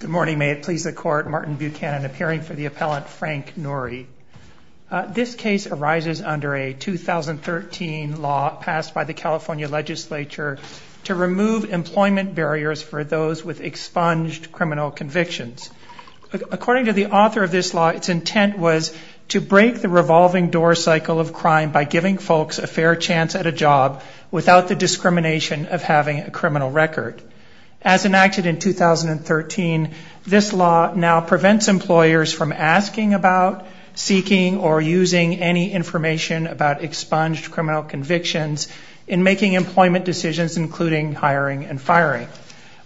Good morning. May it please the Court, Martin Buchanan appearing for the Appellant Frank Noori. This case arises under a 2013 law passed by the California Legislature to remove employment barriers for those with expunged criminal convictions. According to the author of this law, its intent was to break the revolving door cycle of crime by giving folks a fair chance at a job without the discrimination of having a criminal record. As enacted in 2013, this law now prevents employers from asking about, seeking, or using any information about expunged criminal convictions in making employment decisions including hiring and firing.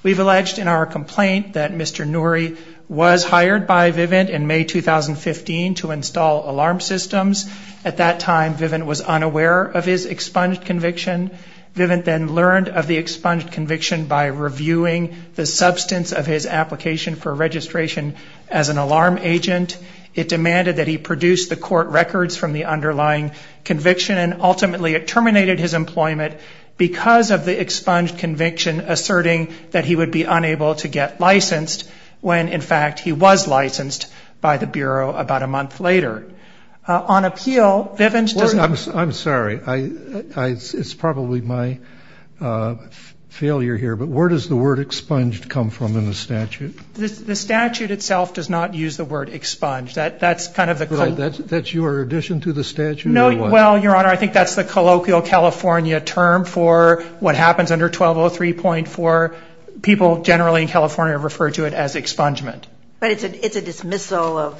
We've alleged in our complaint that Mr. Noori was hired by Vivint in May 2015 to install alarm systems. At that time, Vivint was unaware of his expunged conviction. Vivint then learned of the expunged conviction by reviewing the substance of his application for registration as an alarm agent. It demanded that he produce the court records from the underlying conviction and ultimately it terminated his employment because of the expunged conviction asserting that he would be unable to get licensed when, in fact, he was licensed by the state. On appeal, Vivint doesn't I'm sorry. It's probably my failure here, but where does the word expunged come from in the statute? The statute itself does not use the word expunged. That's kind of the That's your addition to the statute or what? Well, Your Honor, I think that's the colloquial California term for what happens under 1203.4. People generally in California refer to it as expungement. But it's a dismissal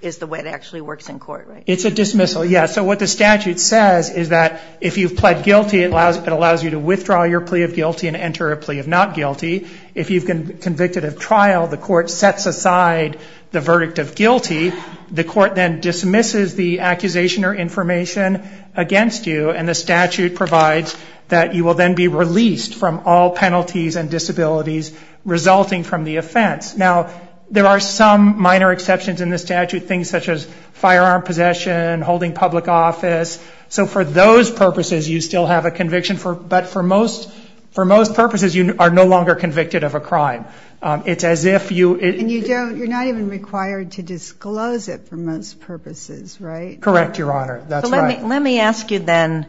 is the way it actually works in court, right? It's a dismissal, yes. So what the statute says is that if you've pled guilty, it allows you to withdraw your plea of guilty and enter a plea of not guilty. If you've been convicted of trial, the court sets aside the verdict of guilty. The court then dismisses the accusation or information against you and the statute provides that you will then be released from all minor exceptions in the statute, things such as firearm possession, holding public office. So for those purposes, you still have a conviction. But for most purposes, you are no longer convicted of a crime. It's as if you And you don't, you're not even required to disclose it for most purposes, right? Correct, Your Honor. That's right. Let me ask you then,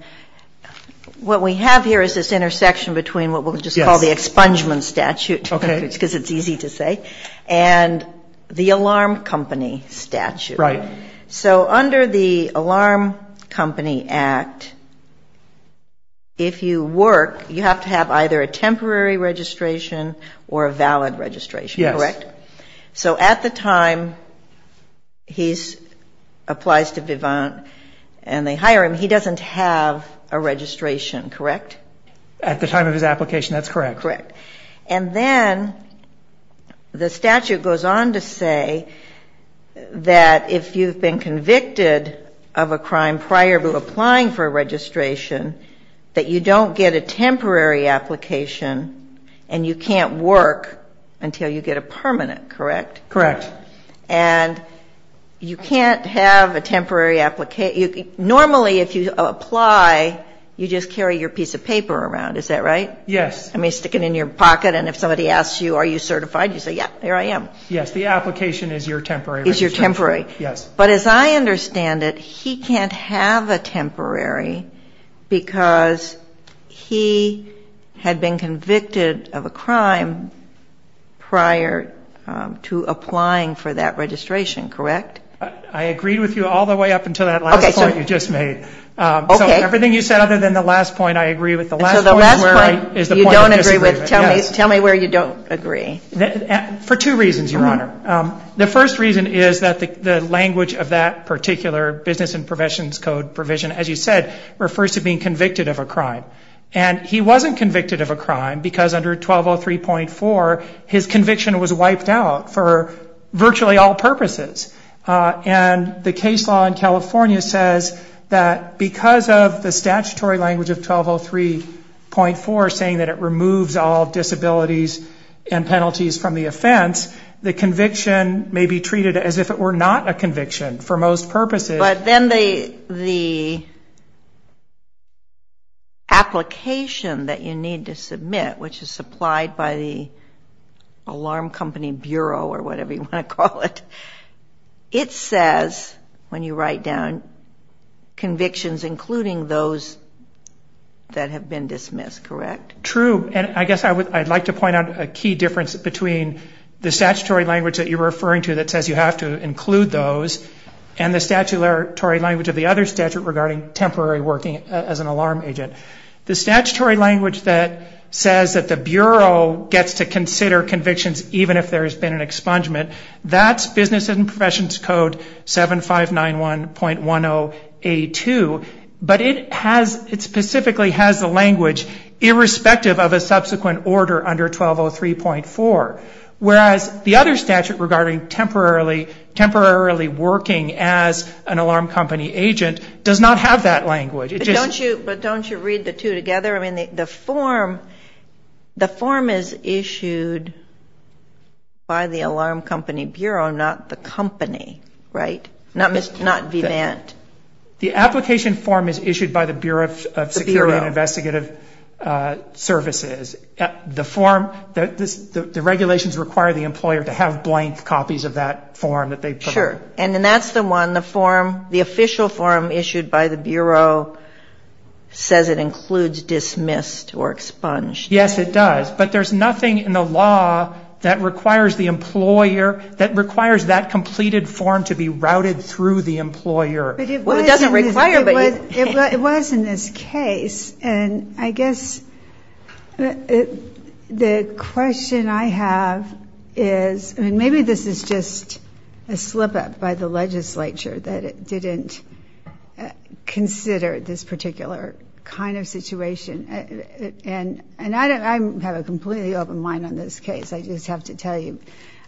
what we have here is this intersection between what we'll just call the expungement statute. Okay. Because it's easy to say. And the alarm company statute. Right. So under the alarm company act, if you work, you have to have either a temporary registration or a valid registration, correct? Yes. So at the time he applies to Vivant and they hire him, he doesn't have a registration, correct? At the time of his application, that's correct. Correct. And then the statute goes on to say that if you've been convicted of a crime prior to applying for a registration, that you don't get a temporary application and you can't work until you get a permanent, correct? Correct. And you can't have a temporary application. Normally, if you apply, you just carry your piece of paper around. Is that right? Yes. I mean, stick it in your pocket, and if somebody asks you, are you certified, you say, yeah, there I am. Yes. The application is your temporary registration. Is your temporary. Yes. But as I understand it, he can't have a temporary because he had been convicted of a crime prior to applying for that registration, correct? I agreed with you all the way up until that last point you just made. Okay. So everything you said other than the last point, I agree with the last point you don't agree with. Yes. Tell me where you don't agree. For two reasons, Your Honor. The first reason is that the language of that particular business and professions code provision, as you said, refers to being convicted of a crime. And he wasn't convicted of a crime because under 1203.4, his conviction was wiped out for virtually all purposes. And the case law in California says that because of the statutory language of 1203.4, saying that it removes all disabilities and penalties from the offense, the conviction may be treated as if it were not a conviction for most purposes. But then the application that you need to submit, which is supplied by the alarm company bureau or whatever you want to call it, it says when you write down convictions including those that have been dismissed, correct? True. And I guess I'd like to point out a key difference between the statutory language that you're referring to that says you have to include those and the statutory language of the other statute regarding temporary working as an alarm agent. The statutory language that says that the bureau gets to consider convictions even if there's been an expungement, that's business and it specifically has the language irrespective of a subsequent order under 1203.4. Whereas the other statute regarding temporarily working as an alarm company agent does not have that language. But don't you read the two together? The form is issued by the alarm company bureau, not the company, right? Not Vivant. The application form is issued by the Bureau of Security and Investigative Services. The form, the regulations require the employer to have blank copies of that form that they prefer. Sure. And then that's the one, the form, the official form issued by the bureau says it includes dismissed or expunged. Yes, it does. But there's nothing in the law that requires the employer, that requires that completed form to be routed through the employer. Well, it doesn't require. It was in this case, and I guess the question I have is, I mean, maybe this is just a slip-up by the legislature that it didn't consider this particular kind of situation. And I have a completely open mind on this case. I just have to tell you.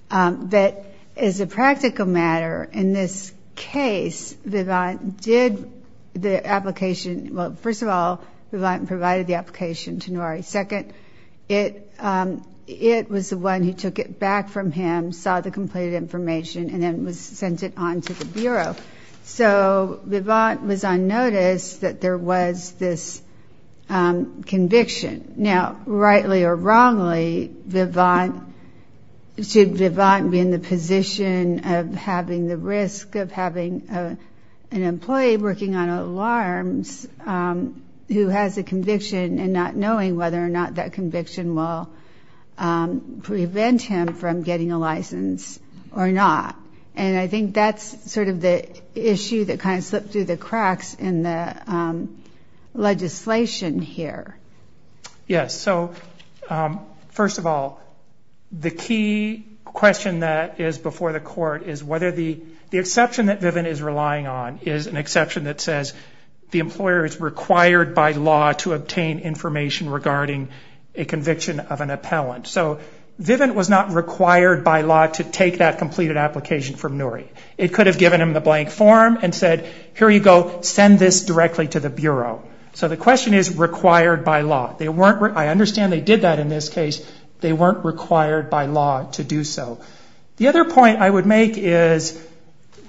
But as a practical matter, in this case, Vivant did the application, well, first of all, Vivant provided the application to Noiri. Second, it was the one who took it back from him, saw the completed information, and then sent it on to the bureau. So Vivant was on notice that there was this conviction. Now, rightly or wrongly, should Vivant be in the position of having the risk of having an employee working on alarms who has a conviction and not knowing whether or not that conviction will prevent him from getting a license or not? And I think that's sort of the issue that kind of slipped through the Yes, so first of all, the key question that is before the court is whether the exception that Vivant is relying on is an exception that says the employer is required by law to obtain information regarding a conviction of an appellant. So Vivant was not required by law to take that completed application from Noiri. It could have given him the blank form and said, here you go, send this directly to the bureau. So the question is required by law. I understand they did that in this case. They weren't required by law to do so. The other point I would make is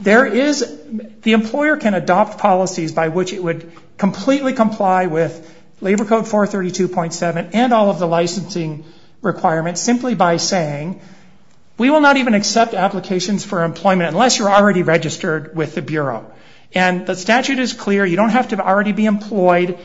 the employer can adopt policies by which it would completely comply with Labor Code 432.7 and all of the licensing requirements simply by saying, we will not even accept applications for employment unless you're already registered with the bureau. And the statute is clear. You don't have to already be employed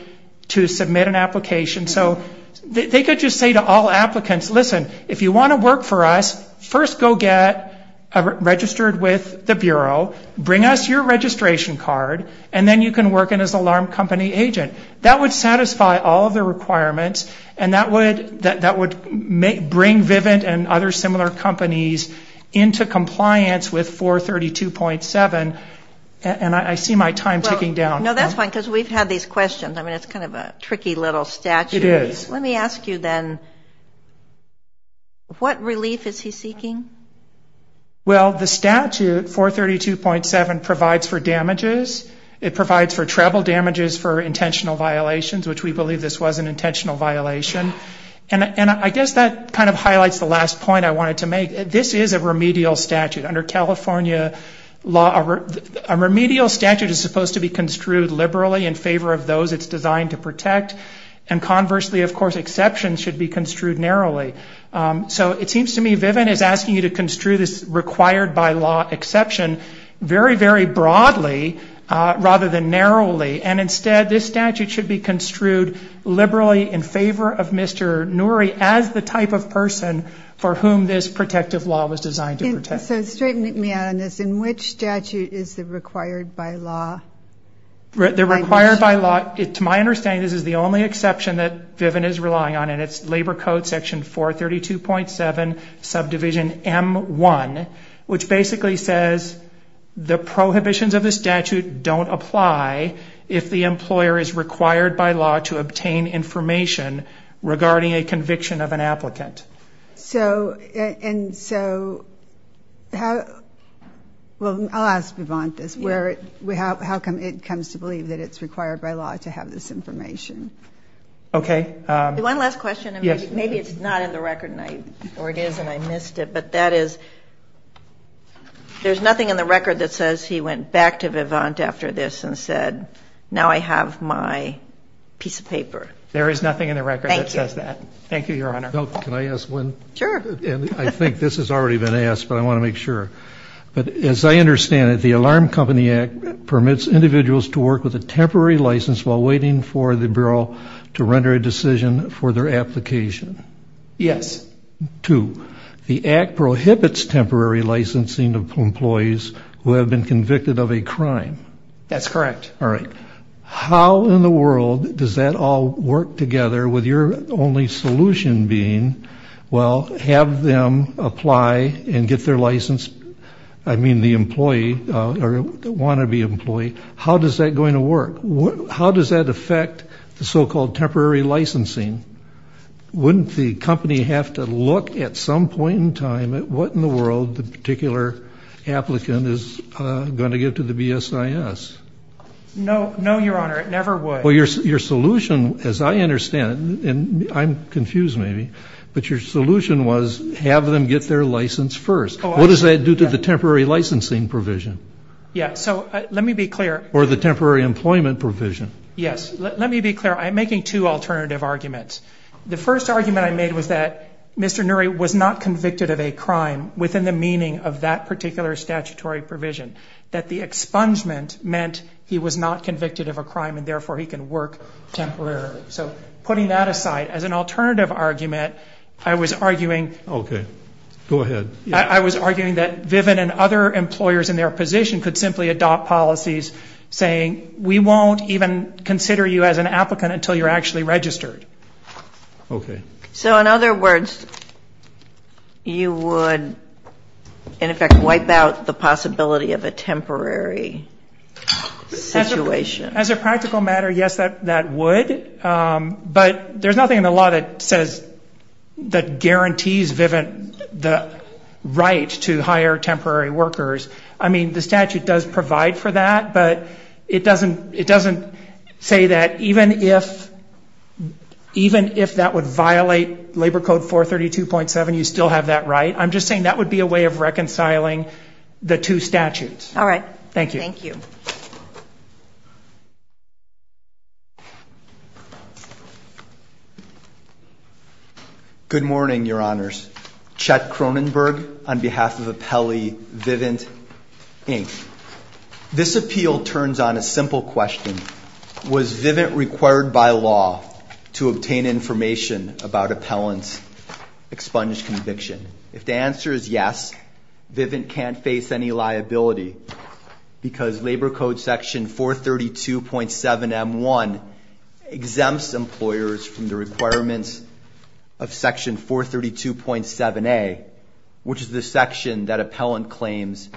to submit an application. So they could just say to all applicants, listen, if you want to work for us, first go get registered with the bureau, bring us your registration card, and then you can work as an alarm company agent. That would satisfy all of the requirements and that would bring Vivant and other similar companies into compliance with 432.7. And I see my time ticking down. No, that's fine, because we've had these questions. I mean, it's kind of a tricky little statute. It is. Let me ask you then, what relief is he seeking? Well, the statute, 432.7, provides for damages. It provides for treble damages for intentional violations, which we believe this was an intentional violation. And I guess that kind of highlights the last point I wanted to make. This is a remedial statute. Under California law, a remedial statute is supposed to be construed liberally in favor of those it's designed to protect, and conversely, of course, exceptions should be construed narrowly. So it seems to me Vivant is asking you to construe this required-by-law exception very, very broadly rather than narrowly. And instead, this statute should be construed liberally in favor of Mr. Nouri as the type of person for whom this protective law was designed to protect. So straighten me out on this. In which statute is the required-by-law? The required-by-law, to my understanding, this is the only exception that Vivant is relying on, and it's Labor Code Section 432.7, subdivision M1, which basically says the prohibitions of the statute don't apply if the employer is required by law to obtain information regarding a conviction of an applicant. And so, well, I'll ask Vivant this. How come it comes to believe that it's required by law to have this information? Okay. One last question, and maybe it's not in the record, or it is and I missed it, but that is, there's nothing in the record that says he went back to Vivant after this and said, now I have my piece of paper. There is nothing in the record that says that. Thank you, Your Honor. Can I ask one? Sure. I think this has already been asked, but I want to make sure. But as I understand it, the Alarm Company Act permits individuals to work with a temporary license while waiting for the bureau to render a decision for their application. Yes. Two, the Act prohibits temporary licensing of employees who have been convicted of a crime. That's correct. All right. How in the world does that all work together with your only solution being, well, have them apply and get their license, I mean, the employee or the want to be employee, how is that going to work? How does that affect the so-called temporary licensing? Wouldn't the company have to look at some point in time at what in the world the particular applicant is going to give to the BSIS? No, Your Honor, it never would. Well, your solution, as I understand it, and I'm confused maybe, but your solution was have them get their license first. What does that do to the temporary licensing provision? Yes. So let me be clear. Or the temporary employment provision. Yes. Let me be clear. I'm making two alternative arguments. The first argument I made was that Mr. Nury was not convicted of a crime within the meaning of that particular statutory provision. That the expungement meant he was not convicted of a crime and, therefore, he can work temporarily. So putting that aside, as an alternative argument, I was arguing. Okay. Go ahead. I was arguing that Viven and other employers in their position could simply adopt policies saying we won't even consider you as an applicant until you're actually registered. Okay. So, in other words, you would, in effect, wipe out the possibility of a temporary situation. As a practical matter, yes, that would. But there's nothing in the law that says that guarantees Viven the right to hire temporary workers. I mean, the statute does provide for that. But it doesn't say that even if that would violate Labor Code 432.7, you still have that right. I'm just saying that would be a way of reconciling the two statutes. All right. Thank you. Thank you. Good morning, Your Honors. Chet Cronenberg on behalf of Appellee Viven Inc. This appeal turns on a simple question. Was Viven required by law to obtain information about appellant's expunged conviction? If the answer is yes, Viven can't face any liability because Labor Code Section 432.7M1 exempts employers from the requirements of Section 432.7A, which is the section that appellant claims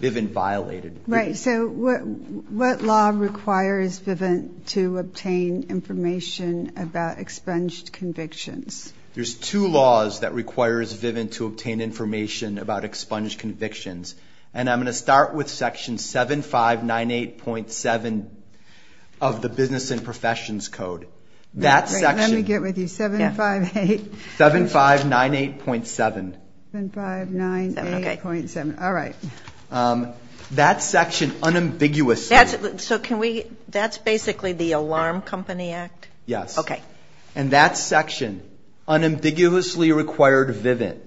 Viven violated. Right. So, what law requires Viven to obtain information about expunged convictions? There's two laws that requires Viven to obtain information about expunged convictions. And I'm going to start with Section 7598.7 of the Business and Professions Code. Let me get with you. 7598.7. 7598.7. All right. That section unambiguously. That's basically the Alarm Company Act? Yes. Okay. And that section unambiguously required Viven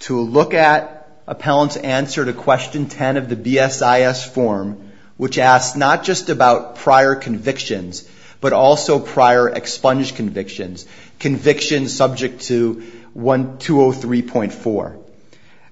to look at appellant's answer to Question 10 of the BSIS form, which asks not just about prior convictions, but also prior expunged convictions, convictions subject to 203.4.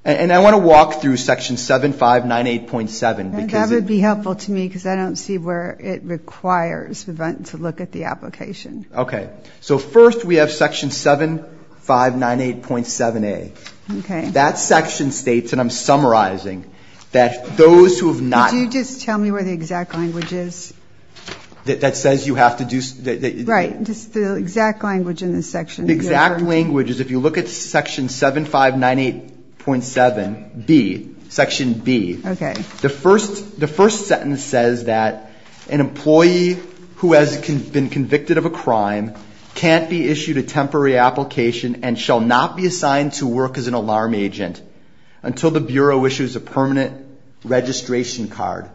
And I want to walk through Section 7598.7. That would be helpful to me because I don't see where it requires Viven to look at the application. Okay. So, first we have Section 7598.7A. Okay. That section states, and I'm summarizing, that those who have not. Would you just tell me where the exact language is? That says you have to do. Right. Just the exact language in the section. The exact language is if you look at Section 7598.7B. Section B. Okay. The first sentence says that an employee who has been convicted of a crime can't be issued a temporary application and shall not be assigned to work as an alarm agent until the Bureau issues a permanent registration card.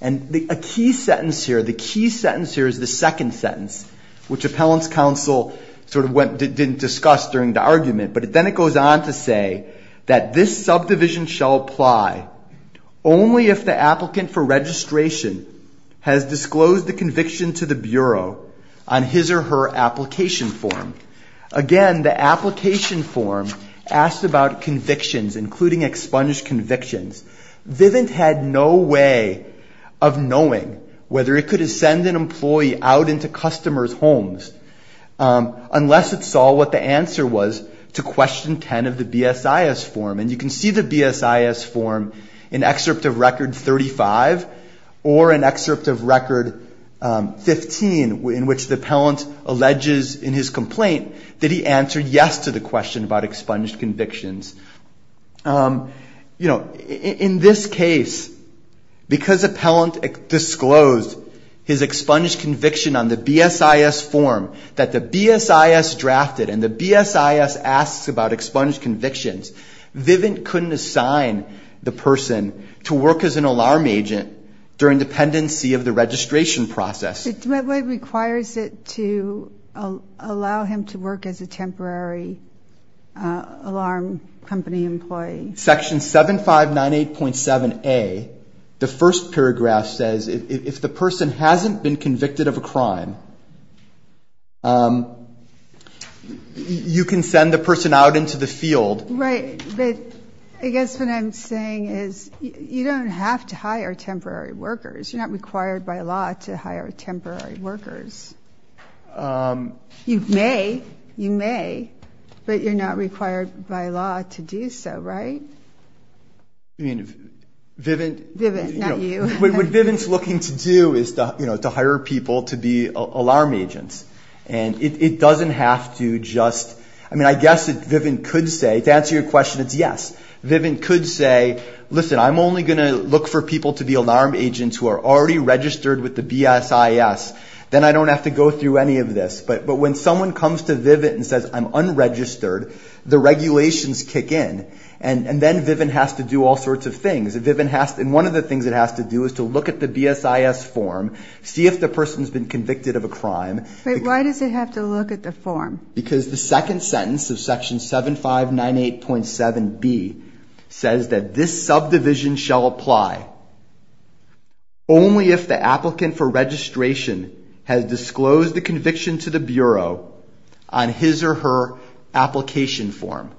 And a key sentence here, the key sentence here is the second sentence, which Appellant's Counsel sort of didn't discuss during the argument. But then it goes on to say that this subdivision shall apply only if the applicant for registration has disclosed the conviction to the Bureau on his or her application form. Again, the application form asked about convictions, including expunged convictions. Vivint had no way of knowing whether it could send an employee out into customers' homes unless it saw what the answer was to Question 10 of the BSIS form. And you can see the BSIS form in Excerpt of Record 35 or in Excerpt of Record 15, in which the Appellant alleges in his complaint that he answered yes to the question about expunged convictions. You know, in this case, because Appellant disclosed his expunged conviction on the BSIS form that the BSIS drafted and the BSIS asks about expunged convictions, Vivint couldn't assign the person to work as an alarm agent during dependency of the registration process. But what requires it to allow him to work as a temporary alarm company employee? Section 7598.7a, the first paragraph, says if the person hasn't been convicted of a crime, you can send the person out into the field. Right. But I guess what I'm saying is you don't have to hire temporary workers. You're not required by law to hire temporary workers. You may. You may. But you're not required by law to do so, right? I mean, Vivint. Vivint, not you. What Vivint's looking to do is to hire people to be alarm agents. And it doesn't have to just, I mean, I guess Vivint could say, to answer your question, it's yes. Vivint could say, listen, I'm only going to look for people to be alarm agents who are already registered with the BSIS. Then I don't have to go through any of this. But when someone comes to Vivint and says, I'm unregistered, the regulations kick in. And then Vivint has to do all sorts of things. And one of the things it has to do is to look at the BSIS form, see if the person's been convicted of a crime. But why does it have to look at the form? Because the second sentence of Section 7598.7b says that this subdivision shall apply only if the applicant for registration has disclosed the conviction to the Bureau on his or her application form.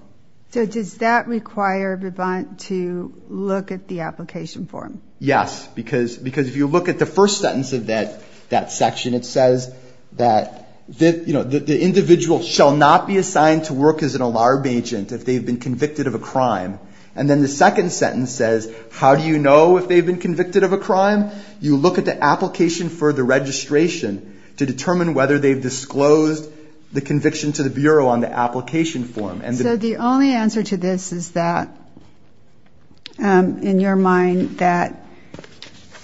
So does that require Vivint to look at the application form? Yes. Because if you look at the first sentence of that section, it says that the individual shall not be assigned to work as an alarm agent if they've been convicted of a crime. And then the second sentence says, how do you know if they've been convicted of a crime? You look at the application for the registration to determine whether they've disclosed the conviction to the Bureau on the application form. So the only answer to this is that, in your mind, that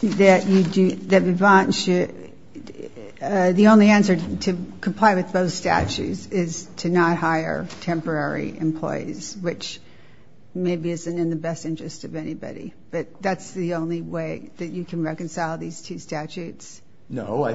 Vivint should the only answer to comply with both statutes is to not hire temporary employees, which maybe isn't in the best interest of anybody. But that's the only way that you can reconcile these two statutes? No. I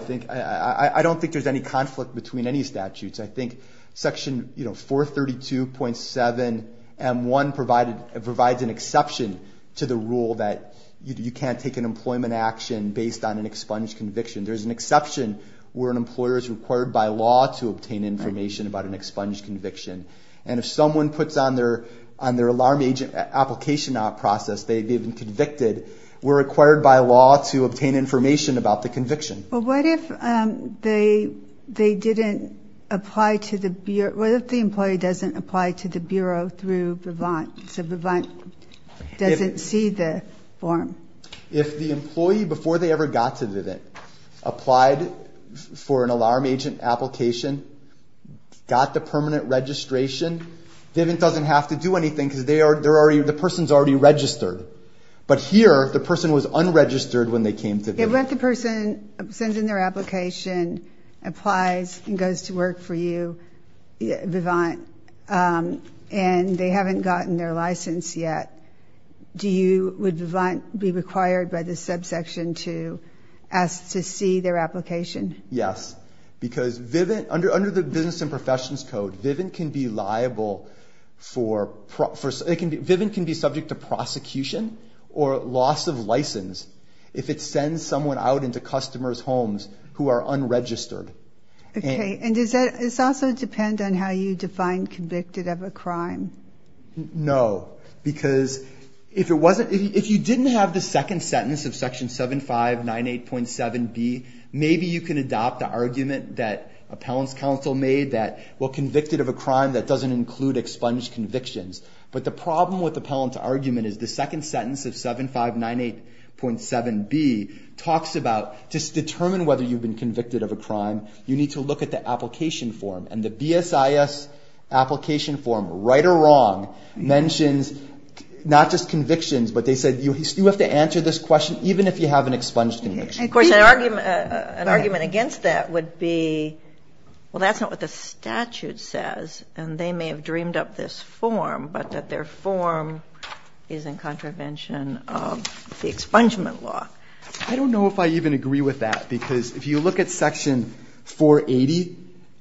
don't think there's any conflict between any statutes. I think Section 432.7m1 provides an exception to the rule that you can't take an employment action based on an expunged conviction. There's an exception where an employer is required by law to obtain information about an expunged conviction. And if someone puts on their alarm agent application process they've been convicted, we're required by law to obtain information about the conviction. But what if they didn't apply to the Bureau? What if the employee doesn't apply to the Bureau through Vivint? So Vivint doesn't see the form? If the employee, before they ever got to Vivint, applied for an alarm agent application, got the permanent registration, Vivint doesn't have to do anything because the person's already registered. But here, the person was unregistered when they came to Vivint. What if the person sends in their application, applies, and goes to work for you, Vivint, and they haven't gotten their license yet? Would Vivint be required by this subsection to ask to see their application? Yes, because under the Business and Professions Code, Vivint can be liable for – Vivint can be subject to prosecution or loss of license if it sends someone out into customers' homes who are unregistered. Okay, and does that – does that also depend on how you define convicted of a crime? No, because if it wasn't – if you didn't have the second sentence of section 7598.7b, maybe you can adopt the argument that appellants' counsel made that, well, convicted of a crime, that doesn't include expunged convictions. But the problem with the appellant's argument is the second sentence of 7598.7b talks about just determine whether you've been convicted of a crime. You need to look at the application form, and the BSIS application form, right or wrong, mentions not just convictions, but they said you have to answer this question even if you have an expunged conviction. Of course, an argument against that would be, well, that's not what the statute says, and they may have dreamed up this form, but that their form is in contravention of the expungement law. I don't know if I even agree with that, because if you look at section 480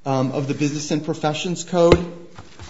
of the Business and Professions Code.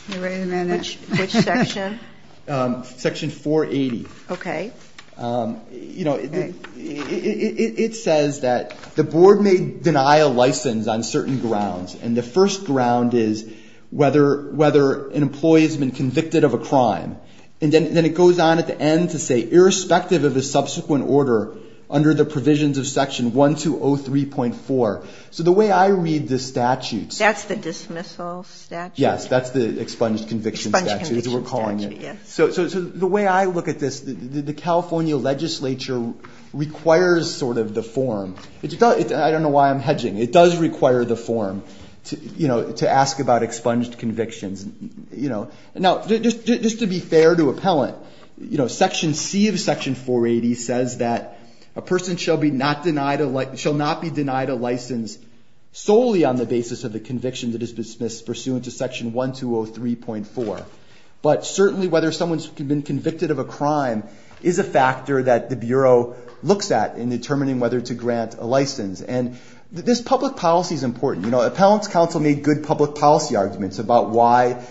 Wait a minute. Which section? Section 480. Okay. You know, it says that the board may deny a license on certain grounds, and the first ground is whether – whether an employee has been convicted of a crime. And then it goes on at the end to say, irrespective of the subsequent order under the provisions of section 1203.4. So the way I read the statute. That's the dismissal statute? Yes, that's the expunged conviction statute. Expunged conviction statute, yes. So the way I look at this, the California legislature requires sort of the form. I don't know why I'm hedging. It does require the form, you know, to ask about expunged convictions. Now, just to be fair to appellant, you know, section C of section 480 says that a person shall not be denied a license solely on the basis of the conviction that is dismissed pursuant to section 1203.4. But certainly whether someone's been convicted of a crime is a factor that the Bureau looks at in determining whether to grant a license. And this public policy is important. You know, appellant's counsel made good public policy arguments about why,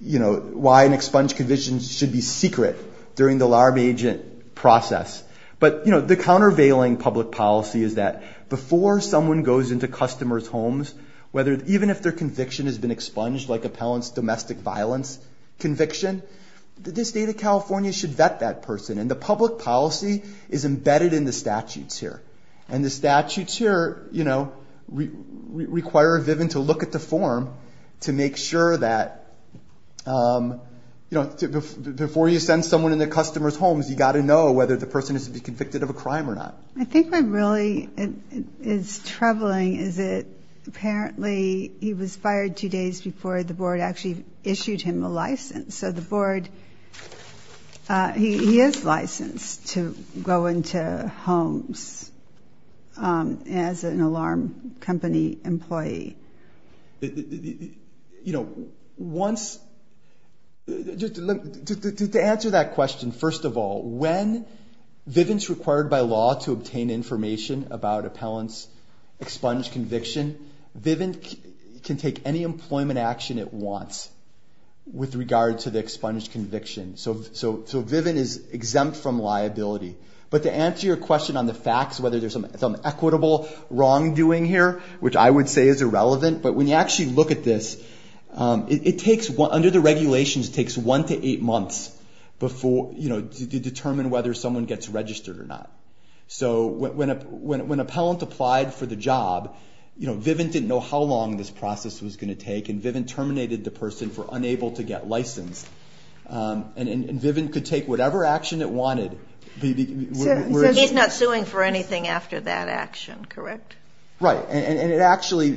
you know, why an expunged conviction should be secret during the alarm agent process. But, you know, the countervailing public policy is that before someone goes into customers' homes, even if their conviction has been expunged like appellant's domestic violence conviction, the state of California should vet that person. And the public policy is embedded in the statutes here. And the statutes here, you know, require Viven to look at the form to make sure that, you know, before you send someone into customers' homes, you've got to know whether the person is to be convicted of a crime or not. I think what really is troubling is that apparently he was fired two days before the board actually issued him a license. So the board, he is licensed to go into homes as an alarm company employee. You know, once, to answer that question, first of all, when Viven is required by law to obtain information about appellant's expunged conviction, Viven can take any employment action it wants with regard to the expunged conviction. So Viven is exempt from liability. But to answer your question on the facts, whether there's some equitable wrongdoing here, which I would say is irrelevant, but when you actually look at this, it takes, under the regulations, it takes one to eight months before, you know, to determine whether someone gets registered or not. So when appellant applied for the job, you know, Viven didn't know how long this process was going to take, and Viven terminated the person for unable to get licensed. And Viven could take whatever action it wanted. So he's not suing for anything after that action, correct? Right. And it actually,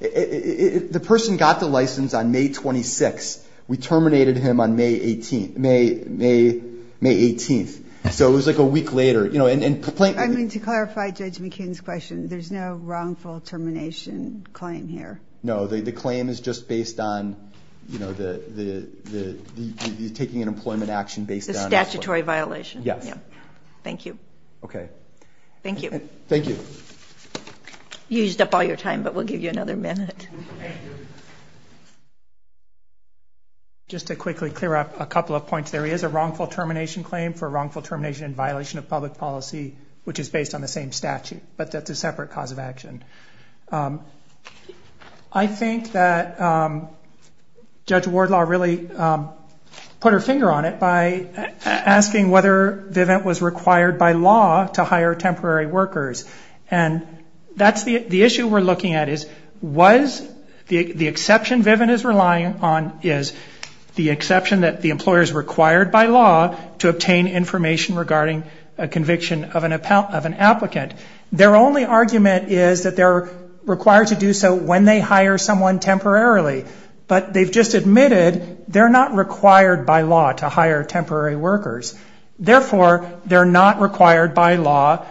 the person got the license on May 26th. We terminated him on May 18th. So it was like a week later. I mean, to clarify Judge McKeon's question, there's no wrongful termination claim here? No. The claim is just based on, you know, the taking an employment action based on. The statutory violation. Yes. Thank you. Okay. Thank you. Thank you. You used up all your time, but we'll give you another minute. Just to quickly clear up a couple of points, there is a wrongful termination claim for wrongful termination in violation of public policy, which is based on the same statute. But that's a separate cause of action. I think that Judge Wardlaw really put her finger on it by asking whether Viven was required by law to hire temporary workers. And that's the issue we're looking at is was the exception Viven is relying on is the exception that the employer is required by law to obtain information regarding a conviction of an applicant. Their only argument is that they're required to do so when they hire someone temporarily. But they've just admitted they're not required by law to hire temporary workers. Therefore, they're not required by law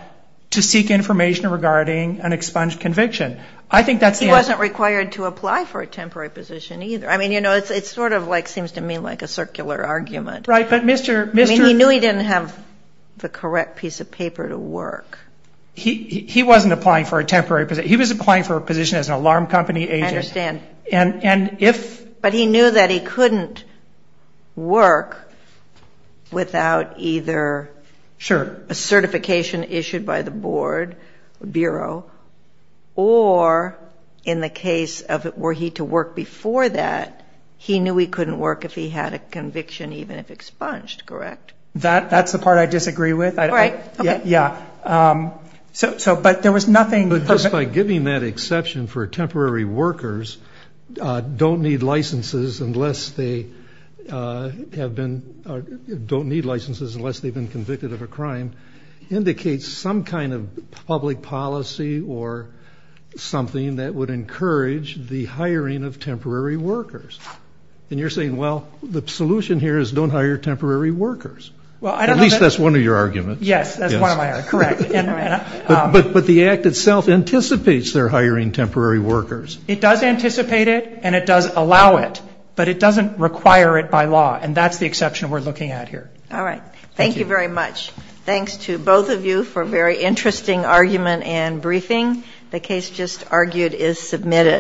to seek information regarding an expunged conviction. I think that's the answer. But he wasn't required to apply for a temporary position either. I mean, you know, it sort of seems to me like a circular argument. Right, but Mr. I mean, he knew he didn't have the correct piece of paper to work. He wasn't applying for a temporary position. He was applying for a position as an alarm company agent. I understand. But he knew that he couldn't work without either a certification issued by the board, bureau, or in the case of were he to work before that, he knew he couldn't work if he had a conviction even if expunged. Correct? That's the part I disagree with. Right. Yeah. So but there was nothing. But just by giving that exception for temporary workers don't need convicted of a crime. Indicates some kind of public policy or something that would encourage the hiring of temporary workers. And you're saying, well, the solution here is don't hire temporary workers. At least that's one of your arguments. Yes, that's one of my arguments. Correct. But the act itself anticipates their hiring temporary workers. It does anticipate it and it does allow it. But it doesn't require it by law. And that's the exception we're looking at here. All right. Thank you very much. Thanks to both of you for a very interesting argument and briefing. The case just argued is submitted.